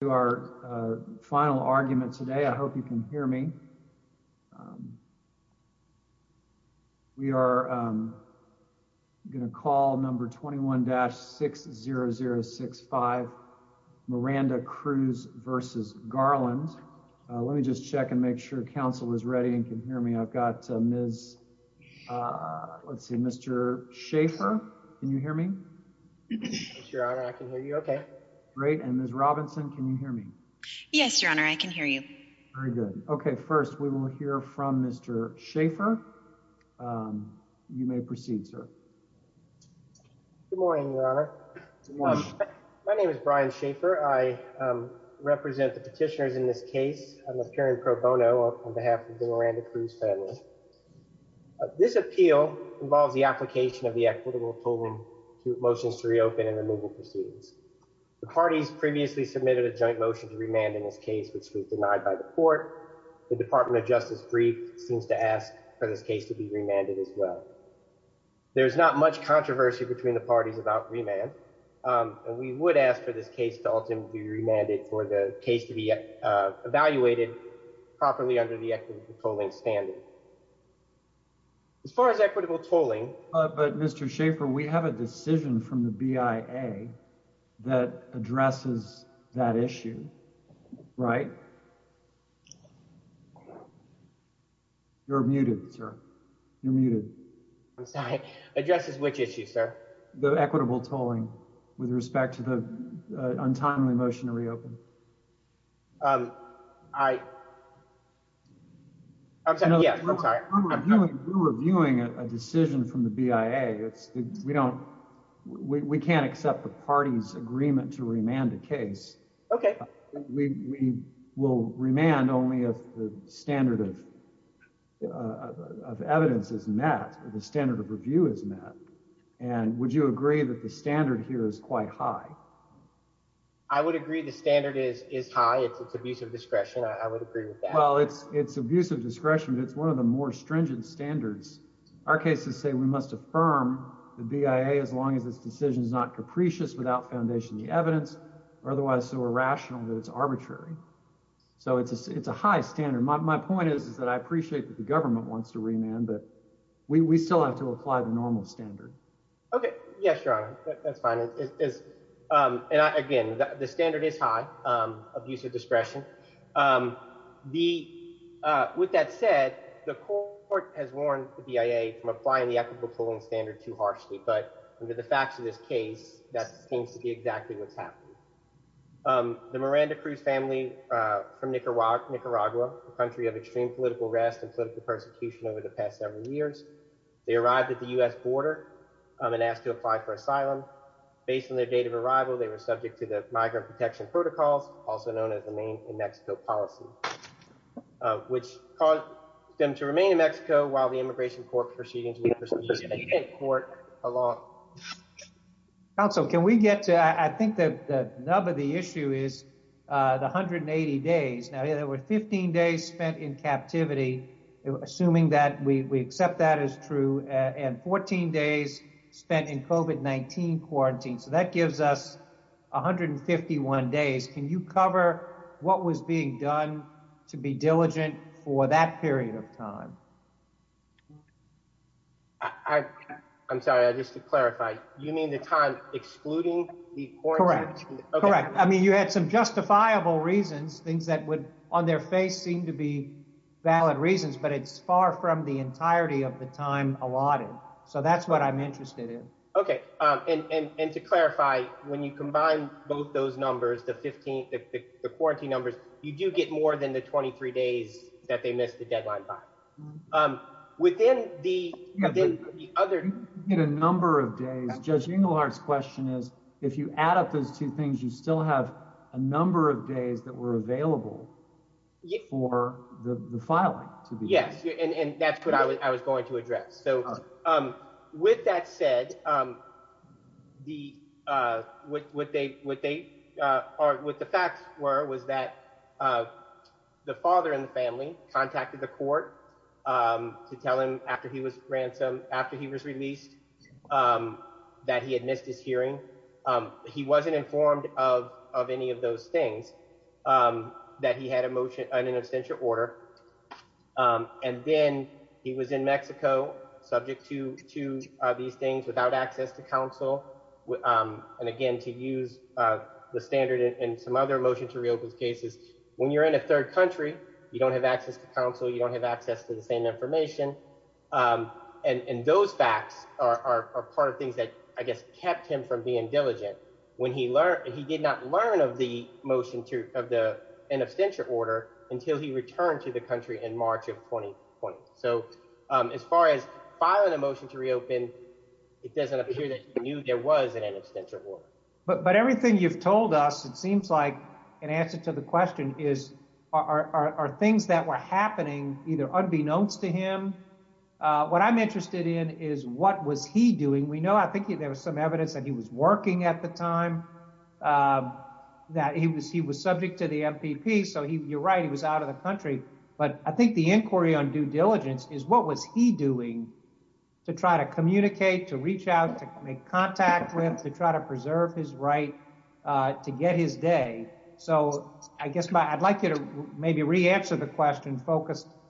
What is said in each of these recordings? to our final argument today. I hope you can hear me. We are going to call number 21-60065 Miranda-Cruz v. Garland. Let me just check and make sure council is ready and can hear me. I've got Ms. Let's see, Mr. Schaefer. Can you hear me, Your Honor? I can hear you. Okay, great. And Ms. Robinson, can you hear me? Yes, Your Honor. I can hear you. Very good. Okay. First, we will hear from Mr. Schaefer. You may proceed, sir. Good morning, Your Honor. My name is Brian Schaefer. I represent the petitioners in this case. I'm appearing pro bono on behalf of the family. This appeal involves the application of the equitable polling motions to reopen and removal proceedings. The parties previously submitted a joint motion to remand in this case, which was denied by the court. The Department of Justice brief seems to ask for this case to be remanded as well. There's not much controversy between the parties about remand. And we would ask for this case to ultimately be remanded for the case to be evaluated properly under the polling standard. As far as equitable tolling. But, Mr. Schaefer, we have a decision from the BIA that addresses that issue, right? You're muted, sir. You're muted. I'm sorry. Addresses which issue, sir? The equitable tolling. I'm sorry. You're reviewing a decision from the BIA. We can't accept the party's agreement to remand a case. Okay. We will remand only if the standard of evidence is met, or the standard of review is met. And would you agree that the standard here is quite high? I would agree the standard is high. It's abuse of discretion. I would agree with that. Well, it's abuse of discretion. It's one of the more stringent standards. Our cases say we must affirm the BIA as long as this decision is not capricious without foundation of the evidence, or otherwise so irrational that it's arbitrary. So it's a high standard. My point is that I appreciate that the government wants to remand, but we still have to apply the normal standard. Okay. Yes, Your Honor. That's fine. And again, the standard is high, abuse of discretion. With that said, the court has warned the BIA from applying the equitable tolling standard too harshly. But under the facts of this case, that seems to be exactly what's happening. The Miranda Cruz family from Nicaragua, a country of extreme political arrest and political abuse. They arrived at the U.S. border and asked to apply for asylum. Based on their date of arrival, they were subject to the migrant protection protocols, also known as the Maine and Mexico policy, which caused them to remain in Mexico while the immigration court proceeded to proceed to court along. Counsel, can we get to, I think the nub of the issue is the 180 days. Now there were 15 days spent in captivity, assuming that we accept that as true, and 14 days spent in COVID-19 quarantine. So that gives us 151 days. Can you cover what was being done to be diligent for that period of time? I'm sorry, just to clarify, you mean the time excluding the quarantine? Correct. I mean, you had some justifiable reasons, things that would on their face seem to be valid reasons, but it's far from the entirety of the time allotted. So that's what I'm interested in. Okay. And to clarify, when you combine both those numbers, the quarantine numbers, you do get more than the 23 days that they missed the deadline by. Within the other... Judge Inglehart's question is, if you add up those two things, you still have a number of days that were available for the filing to be done. Yes. And that's what I was going to address. So with that said, what the facts were was that the father in the family contacted the court to tell him after he was released that he had missed his hearing. He wasn't informed of any of those things, that he had an abstention order. And then he was in Mexico subject to these things without access to counsel. And again, to use the standard in some other motion to reopen cases, when you're in a third country, you don't have access to counsel, you don't have access to the same information. And those facts are part of things that I guess kept him from being diligent when he did not learn of an abstention order until he returned to the country in March of 2020. So as far as filing a motion to reopen, it doesn't appear that he knew there was an abstention order. But everything you've told us, it seems like an answer to the question is, are things that were happening either unbeknownst to him? What I'm interested in is what was he doing? We know, I think there was some evidence that he was working at the time, that he was subject to the MPP. So you're right, he was out of the country. But I think the inquiry on due diligence is what was he doing to try to communicate, to reach out, to make contact with, to try to preserve his right to get his day. So I guess I'd like you to maybe re-answer the question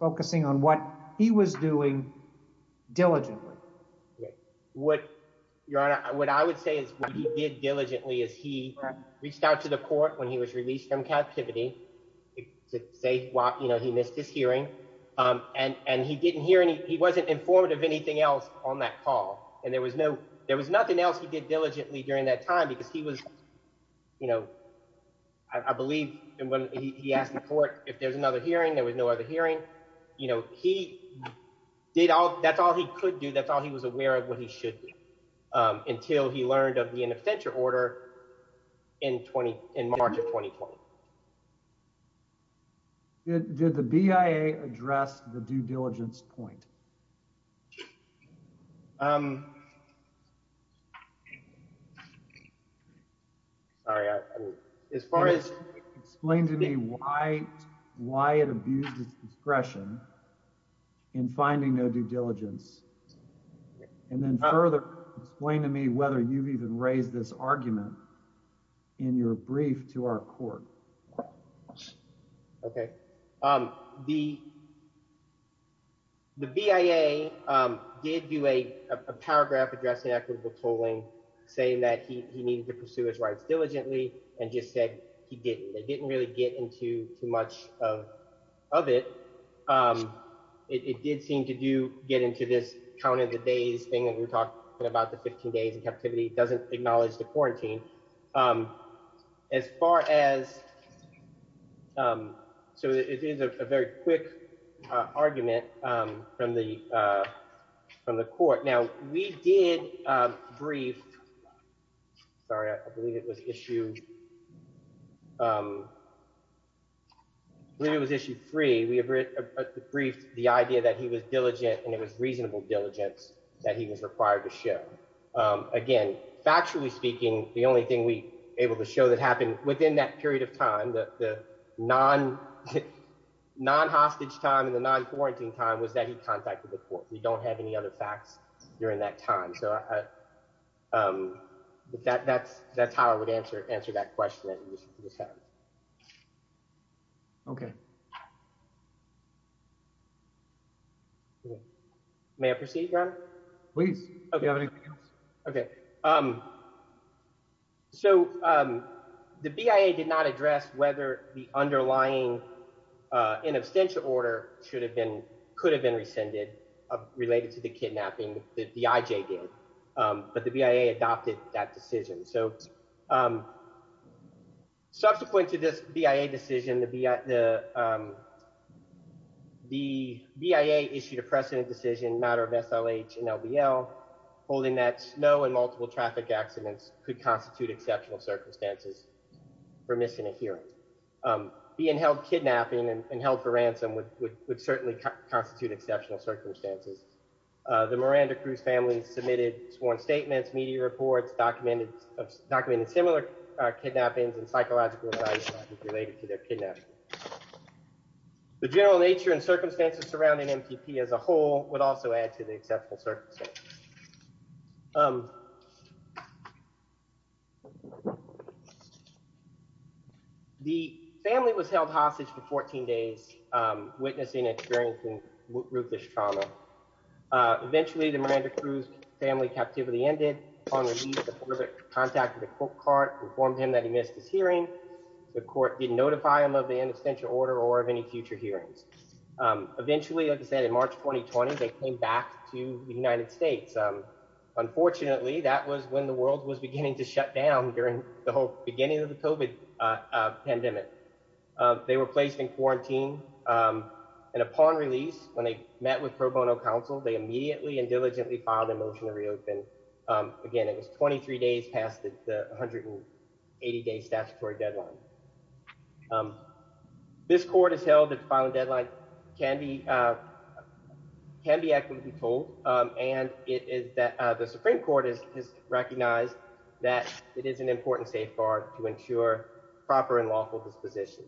focusing on what he was doing diligently. What Your Honor, what I would say is what he did diligently is he reached out to the court when he was released from captivity to say he missed his hearing. And he didn't hear any, he wasn't informed of anything else on that call. And there was no, there was nothing else he did diligently during that time because he was, you know, I believe when he asked the court if there's another hearing, there was no other hearing. You know, he did all, that's all he could do. That's all he was aware of what he should do until he learned of the abstention order in March of 2020. So did the BIA address the due diligence point? Sorry, as far as... Explain to me why it abused its discretion in finding no due diligence. And then further explain to me whether you've even raised this argument in your brief to our court. Okay. The BIA did do a paragraph addressing equitable tolling saying that he needed to pursue his rights diligently and just said he didn't. They didn't really get into too much of it. It did seem to do get into this count of the days thing that we talked about the 15 days doesn't acknowledge the quarantine. As far as, so it is a very quick argument from the court. Now, we did brief, sorry, I believe it was issue three. We briefed the idea that he was diligent and it was reasonable diligence that he was required to show. Again, factually speaking, the only thing we able to show that happened within that period of time, the non-hostage time and the non-quarantine time was that he contacted the court. We don't have any other facts during that time. So that's how I would answer that question. Okay. May I proceed? Please. Okay. So the BIA did not address whether the underlying in abstention order should have been, could have been rescinded related to the kidnapping that the IJ did, but the BIA adopted that decision. So subsequent to this BIA decision, the BIA issued a precedent decision matter of SLH and LBL holding that no and multiple traffic accidents could constitute exceptional circumstances for missing a hearing. Being held kidnapping and held for ransom would certainly constitute exceptional circumstances. The Miranda Cruz family submitted sworn statements, media reports, documented similar kidnappings and psychological related to their kidnapping. The general nature and circumstances surrounding MTP as a whole would also add to the exceptional circumstances. The family was held hostage for 14 days, witnessing and experiencing ruthless trauma. Eventually the Miranda Cruz family captivity ended on release. The public contacted the court card, informed him that he missed his hearing. The court didn't notify him of the in absentia order or of any future hearings. Eventually, like I said, in March, 2020, they came back to the United States. Unfortunately, that was when the world was beginning to shut down during the whole beginning of the COVID pandemic. They were placed in quarantine. And upon release, when they met with pro bono counsel, they immediately and diligently filed a motion to reopen. Again, it was 23 days past the 180 day statutory deadline. This court has held its final deadline can be can be actively told. And it is that the Supreme Court has recognized that it is an important safeguard to ensure proper and lawful disposition.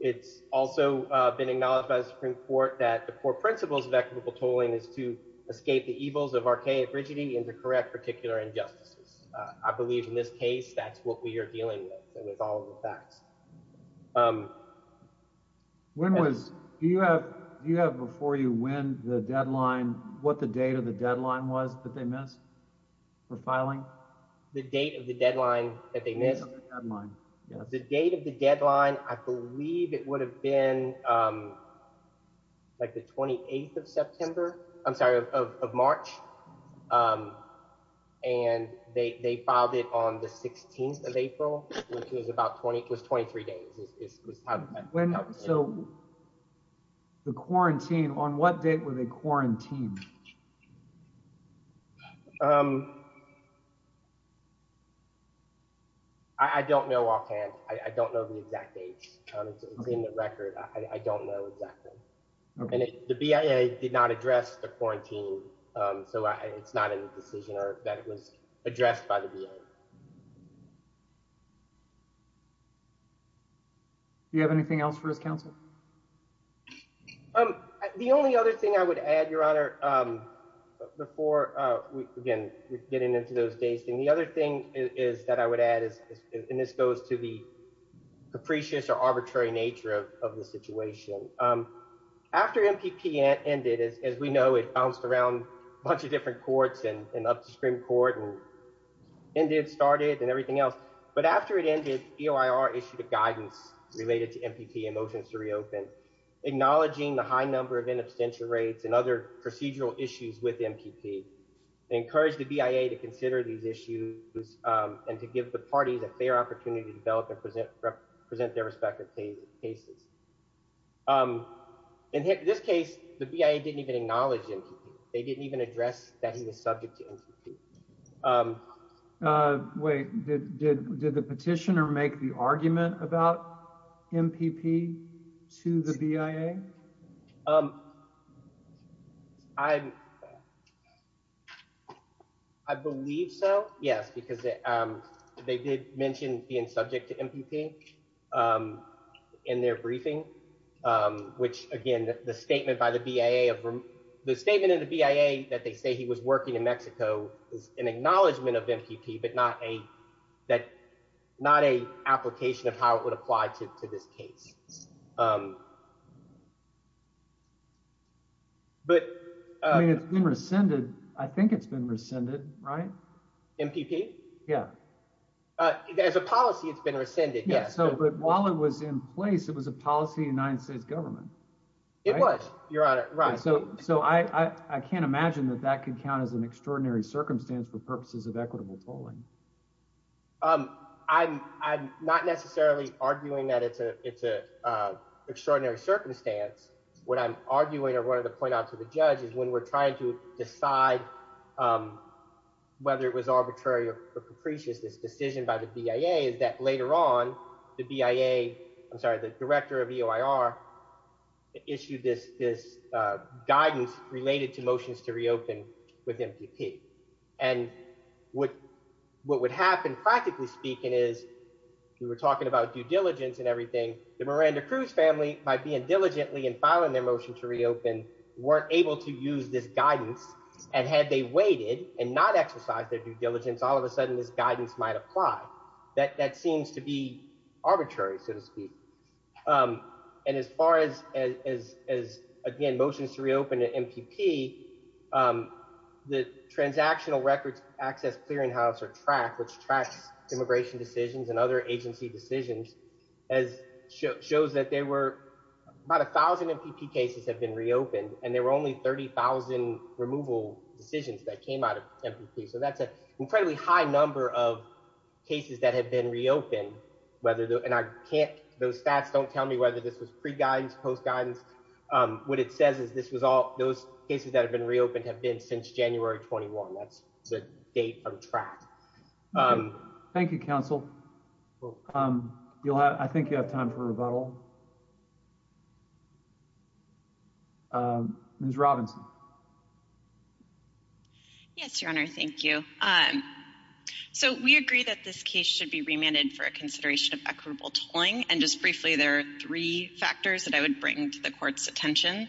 It's also been acknowledged by the Supreme Court that the core principles of equitable tolling is to escape the evils of archaic rigidity and to correct particular injustices. I believe in this case, that's what we are dealing with. And with all the facts. When was you have you have before you when the deadline what the date of the deadline was that they missed for filing the date of the deadline that they missed the deadline, the date of the deadline, I believe it would have been like the 28th of September, I'm sorry, of March. And they filed it on the 16th of April, which was about 20 plus 23 days. When so the quarantine on what date with a quarantine? I don't know offhand. I don't know the exact dates in the record. I don't know exactly. The BIA did not address the quarantine. So it's not a decision or that it was addressed by the VA. Do you have anything else for his counsel? The only other thing I would add, Your Honor, before we begin getting into those days, and the other thing is that I would add is, and this goes to the capricious or arbitrary nature of the situation. After MPP ended, as we know, it bounced around a bunch of different courts and upstream court and ended started and everything else. But after it ended, EOIR issued a guidance related to MPP and motions to reopen, acknowledging the high number of in absentia rates and other procedural issues with MPP, encourage the BIA to consider these issues, and to give the parties a fair opportunity to develop and present represent their respective cases. In this case, the BIA didn't even acknowledge it. They didn't even address that he was subject to MPP. Wait, did the petitioner make the argument about MPP to the BIA? I believe so. Yes, because they did mention being subject to MPP in their briefing, which again, the statement by the BIA, the statement in the BIA that they say was working in Mexico is an acknowledgement of MPP, but not a application of how it would apply to this case. I mean, it's been rescinded. I think it's been rescinded, right? MPP? Yeah. As a policy, it's been rescinded. Yeah, so but while it was in place, it was a policy of the United States government. It was, Your Honor, right. So I can't imagine that that could count as an extraordinary circumstance for purposes of equitable tolling. I'm not necessarily arguing that it's an extraordinary circumstance. What I'm arguing or wanted to point out to the judge is when we're trying to decide whether it was arbitrary or capricious, this decision by the BIA, I'm sorry, the director of EOIR issued this guidance related to motions to reopen with MPP. And what would happen, practically speaking, is we were talking about due diligence and everything. The Miranda Cruz family, by being diligently and filing their motion to reopen, weren't able to use this guidance. And had they waited and not exercised their due diligence, all of a sudden this guidance might apply. That seems to be arbitrary, so to speak. And as far as, again, motions to reopen to MPP, the Transactional Records Access Clearinghouse or TRAC, which tracks immigration decisions and other agency decisions, shows that there were about 1,000 MPP cases have been reopened, and there were only 30,000 removal decisions that were made. And there's a fairly high number of cases that have been reopened, whether the... And I can't... Those stats don't tell me whether this was pre-guidance, post-guidance. What it says is this was all... Those cases that have been reopened have been since January 21. That's the date on TRAC. Thank you, counsel. I think you have time for rebuttal. Ms. Robinson. Yes, Your Honor. Thank you. So, we agree that this case should be remanded for a consideration of equitable tolling. And just briefly, there are three factors that I would bring to the Court's attention.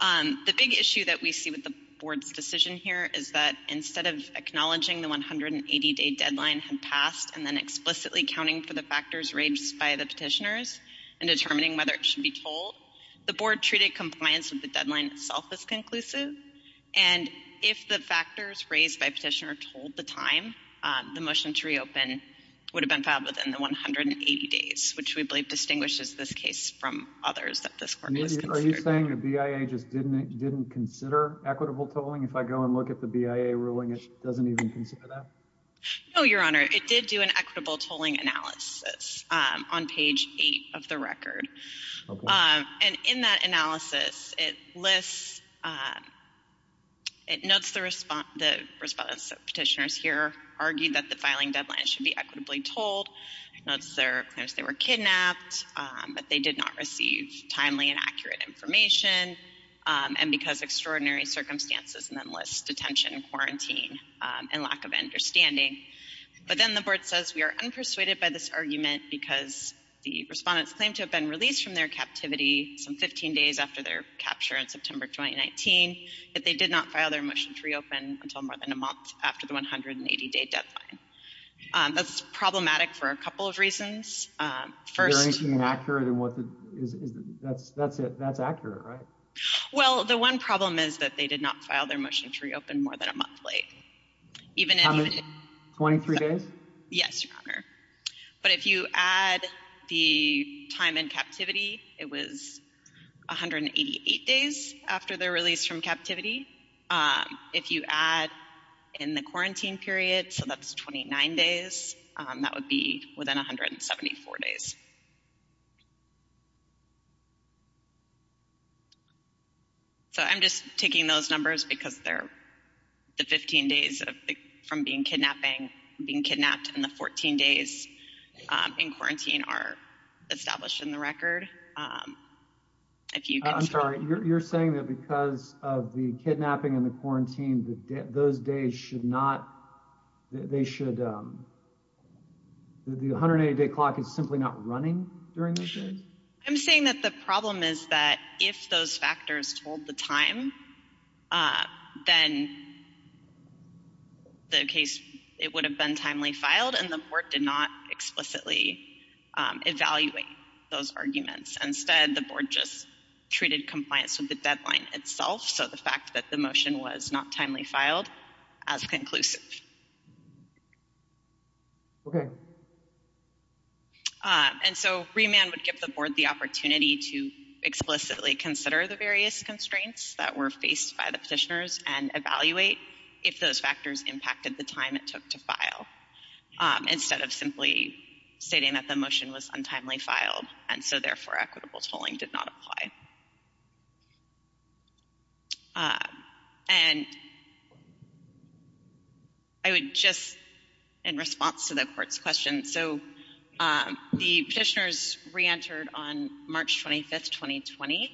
The big issue that we see with the Board's decision here is that instead of acknowledging the 180-day deadline had passed and then explicitly counting for the factors raised by the petitioners and determining whether it should be tolled, the Board treated compliance with the deadline itself as conclusive. And if the factors raised by petitioner tolled the time, the motion to reopen would have been filed within the 180 days, which we believe distinguishes this case from others that this Court has considered. Are you saying the BIA just didn't consider equitable tolling? If I go and look at the BIA ruling, it doesn't even consider that? No, Your Honor. It did do an equitable tolling analysis on page 8 of the record. Okay. And in that analysis, it lists, it notes the response that petitioners here argued that the filing deadline should be equitably tolled. It notes their claims they were kidnapped, that they did not receive timely and accurate information, and because extraordinary circumstances, and then lists detention, quarantine, and lack of understanding. But then the Board says we are unpersuaded by this argument because the respondents claim to have been released from their captivity some 15 days after their capture in September 2019, that they did not file their motion to reopen until more than a month after the 180-day deadline. That's problematic for a couple of reasons. First... Is there anything inaccurate? That's it. That's accurate, right? Well, the one problem is that they did not file their motion to reopen more than a month late. How many? 23 days? Yes, Your Honor. But if you add the time in captivity, it was 188 days after their release from captivity. If you add in the quarantine period, so that's 29 days, that would be within 174 days. So I'm just taking those numbers because they're the 15 days from being kidnapping, being kidnapped, and the 14 days in quarantine are established in the record. I'm sorry, you're saying that because of the kidnapping and the quarantine, those days should not, they should, the 180-day clock is simply not running during those days? I'm saying that the problem is that if those factors told the time, then the case, it would have been timely filed and the court did not explicitly evaluate those arguments. Instead, the board just treated compliance with the deadline itself. So the fact that the motion was not timely filed as conclusive. And so remand would give the board the opportunity to explicitly consider the various constraints that were faced by the petitioners and evaluate if those factors impacted the time it took to file instead of simply stating that the motion was untimely filed and so therefore equitable tolling did not apply. And I would just, in response to the court's question, so the petitioners re-entered on March 25, 2020.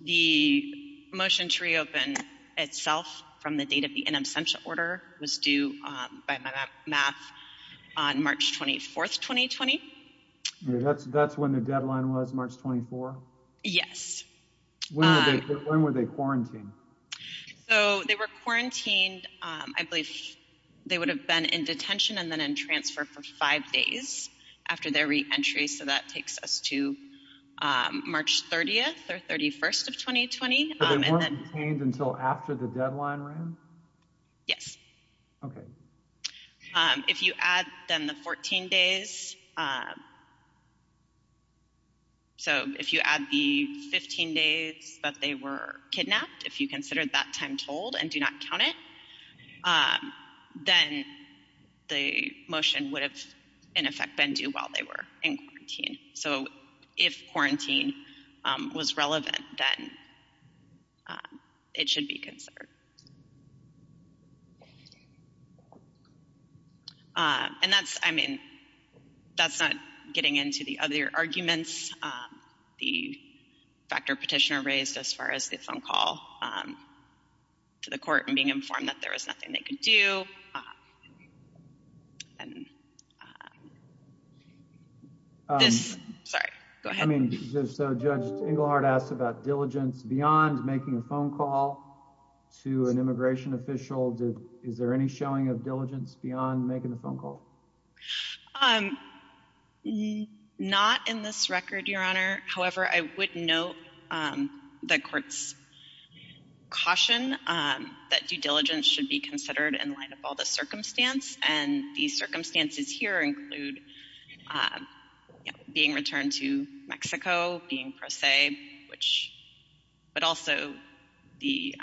The motion to reopen itself from the date of the in absentia order was due by my math on March 24, 2020. That's when the deadline was, March 24? Yes. When were they quarantined? So they were quarantined, I believe they would have been in detention and then in transfer for five days after their re-entry. So that takes us to March 30th or 31st of 2020. So they weren't detained until after the deadline ran? Yes. Okay. If you add then the 14 days, so if you add the 15 days that they were kidnapped, if you consider that time told and do not count it, then the motion would have, in effect, been due while they were in quarantine. So if quarantine was relevant, then it should be considered. And that's, I mean, that's not getting into the other arguments. The factor petitioner raised as far as the phone call to the court and being informed that there was a phone call to the immigration official. Is there any showing of diligence beyond making a phone call? Not in this record, Your Honor. However, I would note the court's caution that due diligence should be considered in light of all the circumstance. And the circumstances here include being returned to Mexico, being pro se, but also being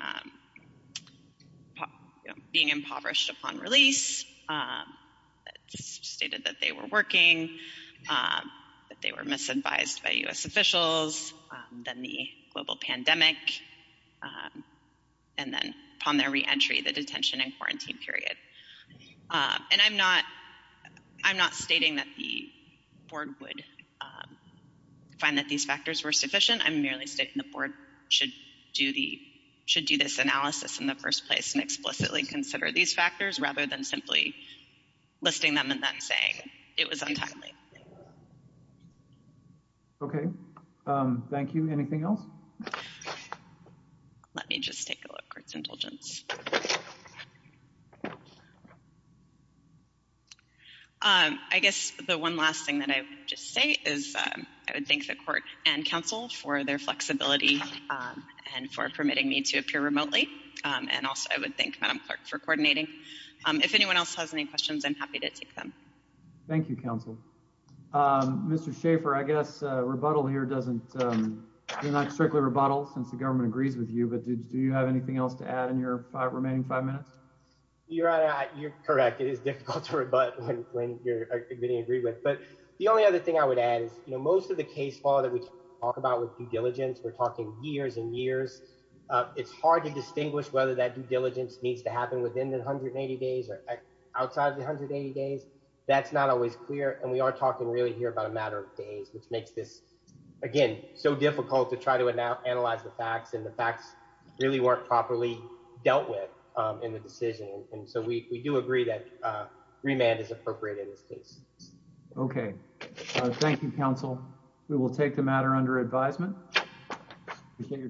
impoverished upon release. It's stated that they were working, that they were misadvised by U.S. officials, then the global pandemic, and then upon their re-entry, the detention and quarantine period. And I'm not, I'm not stating that the board would find that these factors were sufficient. I'm merely stating the board should do the, should do this analysis in the first place and explicitly consider these factors rather than simply listing them and then saying it was untimely. Okay. Thank you. Anything else? Let me just take a look at court's indulgence. I guess the one last thing that I would just say is I would thank the court and council for their flexibility and for permitting me to appear remotely. And also I would thank Madam Clerk for coordinating. If anyone else has any questions, I'm happy to take them. Thank you, counsel. Mr. Schaffer, I guess rebuttal here doesn't, you're not strictly rebuttal since the government agrees with you, but do you have anything else to add in your remaining five minutes? Your Honor, you're correct. It is difficult to rebut when you're being agreed with. But the only other thing I would add is, you know, most of the case law that we talk about with due diligence, we're talking years and years. It's hard to distinguish whether that due diligence needs to happen within 180 days or outside of the 180 days. That's not always clear. And we are here about a matter of days, which makes this, again, so difficult to try to analyze the facts and the facts really weren't properly dealt with in the decision. And so we do agree that remand is appropriate in this case. Okay. Thank you, counsel. We will take the matter under advisement. Appreciate your time.